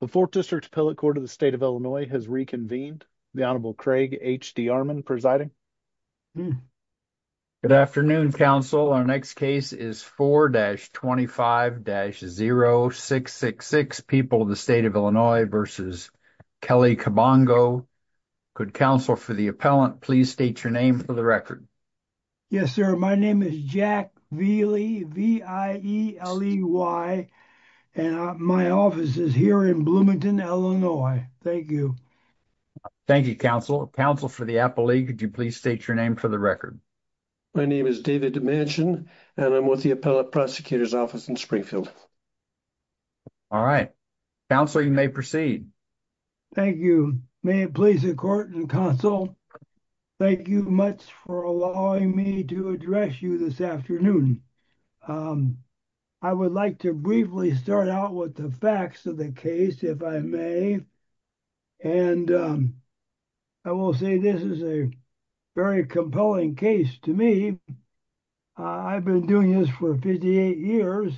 The 4th District Appellate Court of the State of Illinois has reconvened. The Honorable Craig H.D. Armon presiding. Good afternoon, counsel. Our next case is 4-25-0666, People of the State of Illinois versus Kelly Kabongo. Could counsel for the appellant please state your name for the record? Yes, sir. My name is Jack Veely, V-I-E-L-E-Y, and my office is here in Bloomington, Illinois. Thank you. Thank you, counsel. Counsel for the appellee, could you please state your name for the record? My name is David Dimansion, and I'm with the Appellate Prosecutor's Office in Springfield. All right. Counsel, you may proceed. Thank you. May it please the court and counsel, thank you much for allowing me to address you this afternoon. I would like to briefly start out with the facts of the case, if I may, and I will say this is a very compelling case to me. I've been doing this for 58 years,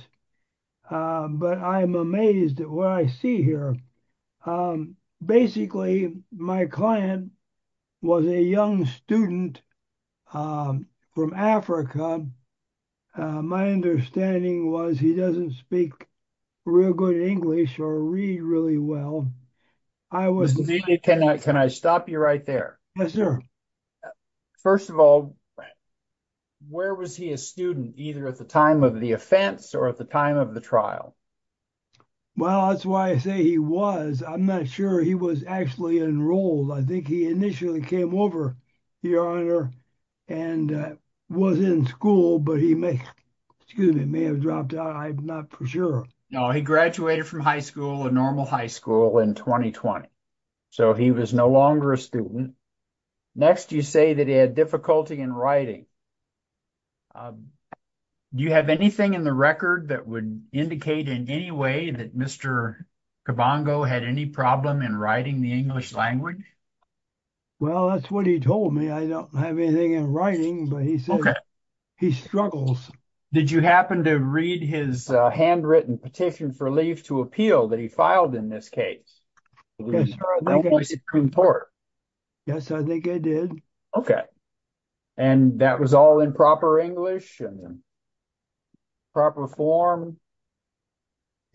but I'm amazed at what I see here. Basically, my client was a young student from Africa. My understanding was he doesn't speak real good English or read really well. Can I stop you right there? Yes, sir. First of all, where was he a student either at the time of the offense or at the time of the trial? Well, that's why I say he was. I'm not sure he was actually enrolled. I think he initially came over, your honor, and was in school, but he may, excuse me, may have dropped out. I'm not for sure. No, he graduated from high school, a normal high school, in 2020, so he was no longer a student. Next, you say that he had difficulty in writing. Do you have anything in the record that would indicate in any way that Mr. Cabongo had any problem in writing the English language? Well, that's what he told me. I don't have anything in writing, but he said he struggles. Did you happen to read his handwritten petition for leave to appeal that he filed in this case? Yes, sir. Yes, I think I did. Okay, and that was all in proper English and proper form.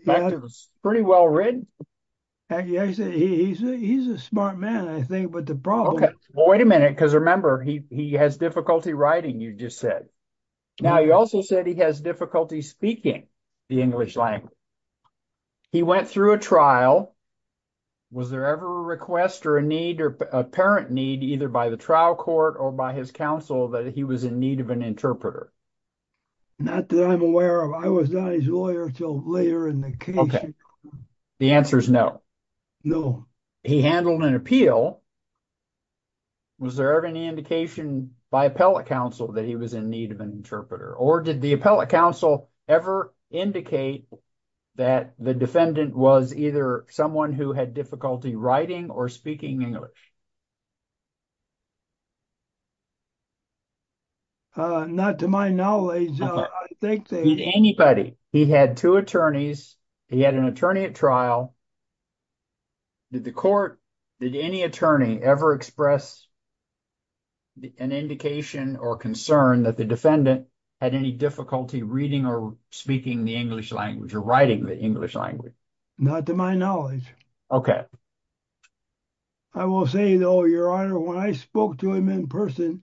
In fact, it was pretty well read. He's a smart man, I think, but the problem... Okay, well, wait a minute, because remember, he has difficulty writing, you just said. Now, you also said he has difficulty speaking the English language. He went through a trial, was there ever a request or a need or apparent need either by the trial court or by his counsel that he was in need of an interpreter? Not that I'm aware of. I was not his lawyer until later in the case. Okay, the answer is no. No. He handled an appeal. Was there ever any indication by appellate counsel that he was in need of an interpreter? Or did the defendant have difficulty writing or speaking English? Not to my knowledge. I think that... Did anybody? He had two attorneys. He had an attorney at trial. Did the court, did any attorney ever express an indication or concern that the defendant had any difficulty reading or speaking the English language or writing the English language? Not to my knowledge. Okay. I will say, though, Your Honor, when I spoke to him in person,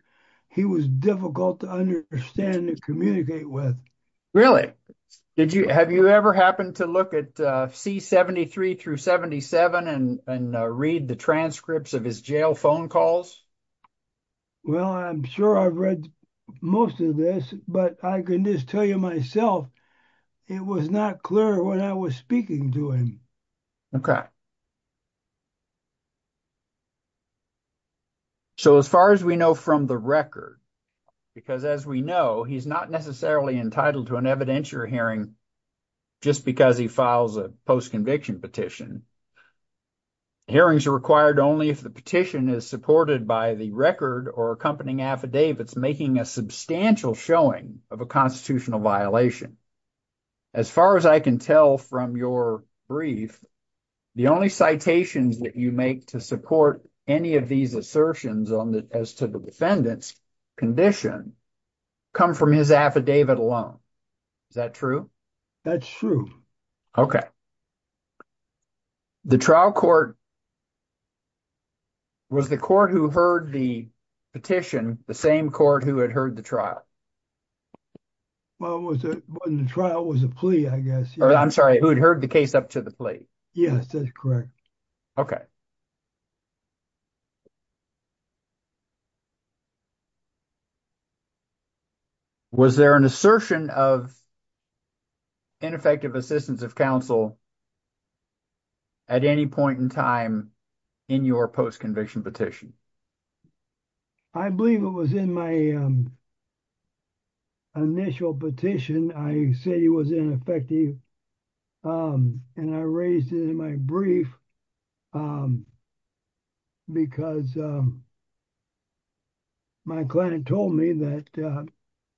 he was difficult to understand and communicate with. Really? Have you ever happened to look at C-73 through 77 and read the transcripts of his jail phone calls? Well, I'm sure I've read most of this, but I can just tell you myself, it was not clear when I was speaking to him. Okay. So, as far as we know from the record, because as we know, he's not necessarily entitled to an evidentiary hearing just because he files a post-conviction petition. Hearings are required only if the petition is supported by the record or accompanying affidavits making a substantial showing of a constitutional violation. As far as I can tell from your brief, the only citations that you make to support any of these assertions as to the defendant's condition come from his affidavit alone. Is that true? That's true. Okay. The trial court, was the court who heard the petition the same court who had heard the trial? Well, the trial was a plea, I guess. I'm sorry, who had heard the case up to the plea? Yes, that's correct. Okay. Was there an assertion of ineffective assistance of counsel at any point in time in your post-conviction petition? I believe it was in my initial petition. I said he was ineffective, and I raised it in my brief because my client told me that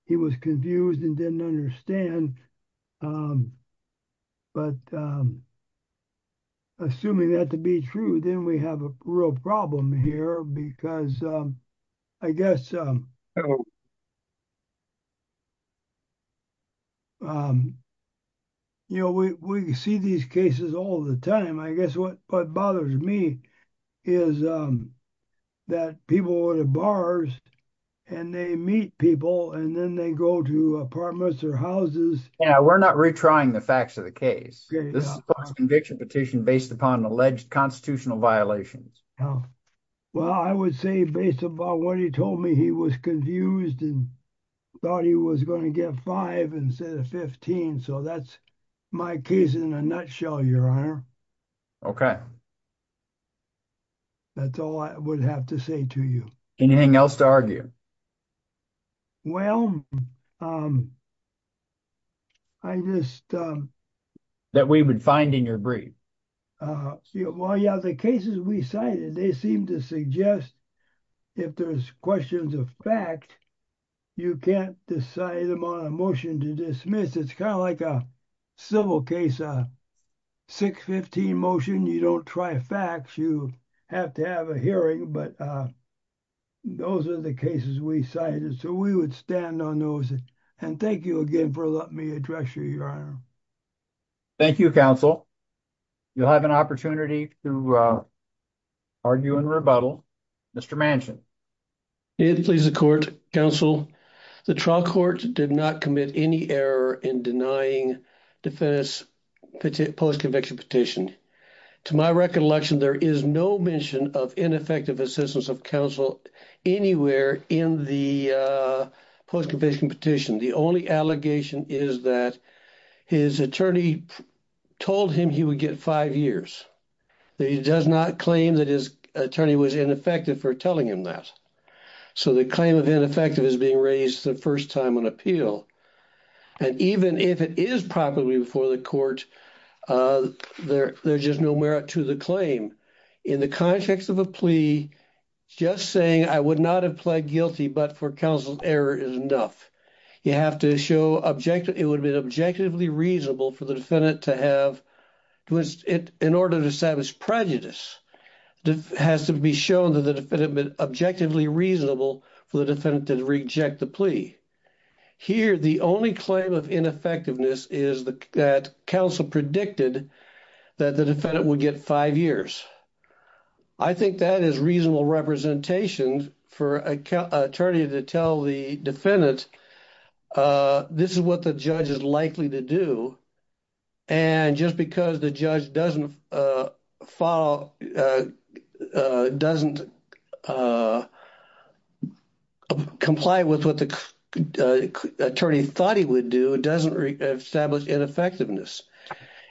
he was confused and didn't understand. But assuming that to be true, then we have a real problem here because I guess we see these cases all the time. I guess what bothers me is that people go to bars and they meet people and then they go to apartments or houses. Yeah, we're not retrying the facts of the case. This is a post-conviction petition based upon alleged constitutional violations. Well, I would say based upon what he told me, he was confused and thought he was going to get five instead of 15. So that's my case in a nutshell, your honor. That's all I would have to say to you. Anything else to argue? Well, I just... That we would find in your brief? Well, yeah, the cases we cited, they seem to suggest if there's questions of fact, you can't decide them on a motion to dismiss. It's kind of like a civil case, a 615 motion. You don't try facts. You have to have a hearing, but those are the cases we cited. So we would stand on those. And thank you again for letting me address you, your honor. Thank you, counsel. You'll have an opportunity to argue and rebuttal. Mr. Manchin. It pleases the court, counsel. The trial court did not commit any error in denying defendant's post-conviction petition. To my recollection, there is no mention of ineffective assistance of counsel anywhere in the post-conviction petition. The only allegation is that his attorney told him he would get five years. He does not claim that his attorney was ineffective for telling him that. So the claim of ineffective is being raised the first time on appeal. And even if it is properly before the court, there's just no merit to the claim. In the context of a plea, just saying I would not have pled guilty but for counsel's error is enough. You have to show it would have been objectively reasonable for the defendant to have... was it in order to establish prejudice, has to be shown that the defendant been objectively reasonable for the defendant to reject the plea. Here, the only claim of ineffectiveness is that counsel predicted that the defendant would get five years. I think that is reasonable representation for an attorney to tell the defendant that this is what the judge is likely to do. And just because the judge doesn't follow... doesn't comply with what the attorney thought he would do, it doesn't establish ineffectiveness.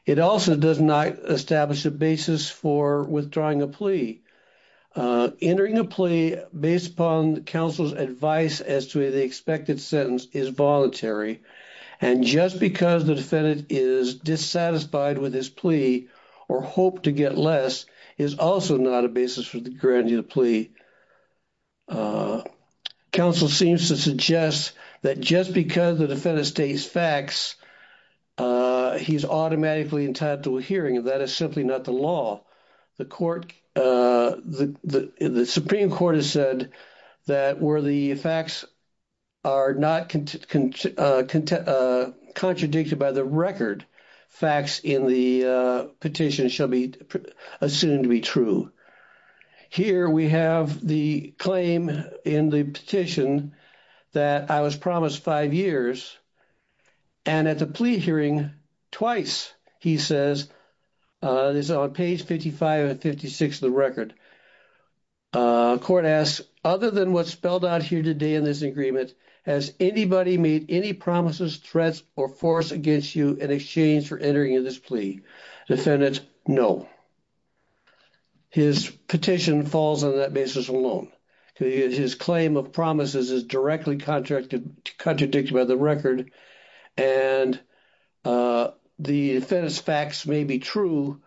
It also does not establish a basis for withdrawing a plea. Entering a plea based upon counsel's advice as to the expected sentence is voluntary. And just because the defendant is dissatisfied with his plea or hoped to get less is also not a basis for granting the plea. Counsel seems to suggest that just because the defendant states facts, he's automatically entitled to a hearing. That is simply not the law. The Supreme Court has said that where the facts are not contradicted by the record, facts in the petition shall be assumed to be true. Here, we have the claim in the petition that I was promised five years. And at the plea hearing, twice, he says, this is on page 55 and 56 of the record, court asks, other than what's spelled out here today in this agreement, has anybody made any promises, threats, or force against you in exchange for entering in this plea? Defendant, no. His petition falls on that basis alone. His claim of promises is directly contradicted by the record. And the defendant's facts may be true,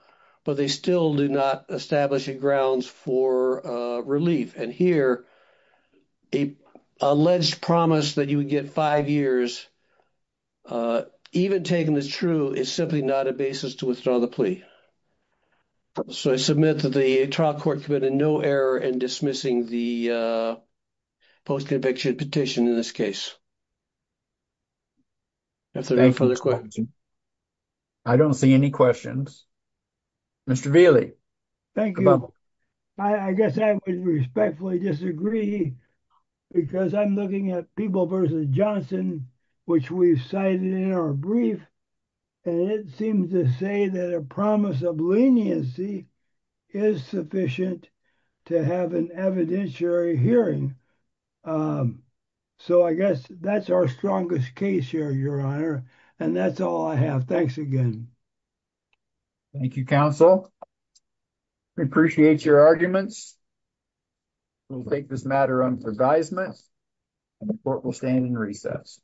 but they still do not establish a grounds for relief. And here, a alleged promise that you would get five years, even taken as true, is simply not a basis to withdraw the plea. So I submit that the trial court committed no error in dismissing the post-conviction petition in this case. That's it. Any further questions? I don't see any questions. Mr. Vealey. Thank you. I guess I would respectfully disagree because I'm looking at People v. Johnson, which we've cited in our brief, and it seems to say that a promise of leniency is sufficient to have an evidentiary hearing. So I guess that's our strongest case here, Your Honor. And that's all I have. Thanks again. Thank you, counsel. We appreciate your arguments. We'll take this matter under advisement, and the court will stand in recess.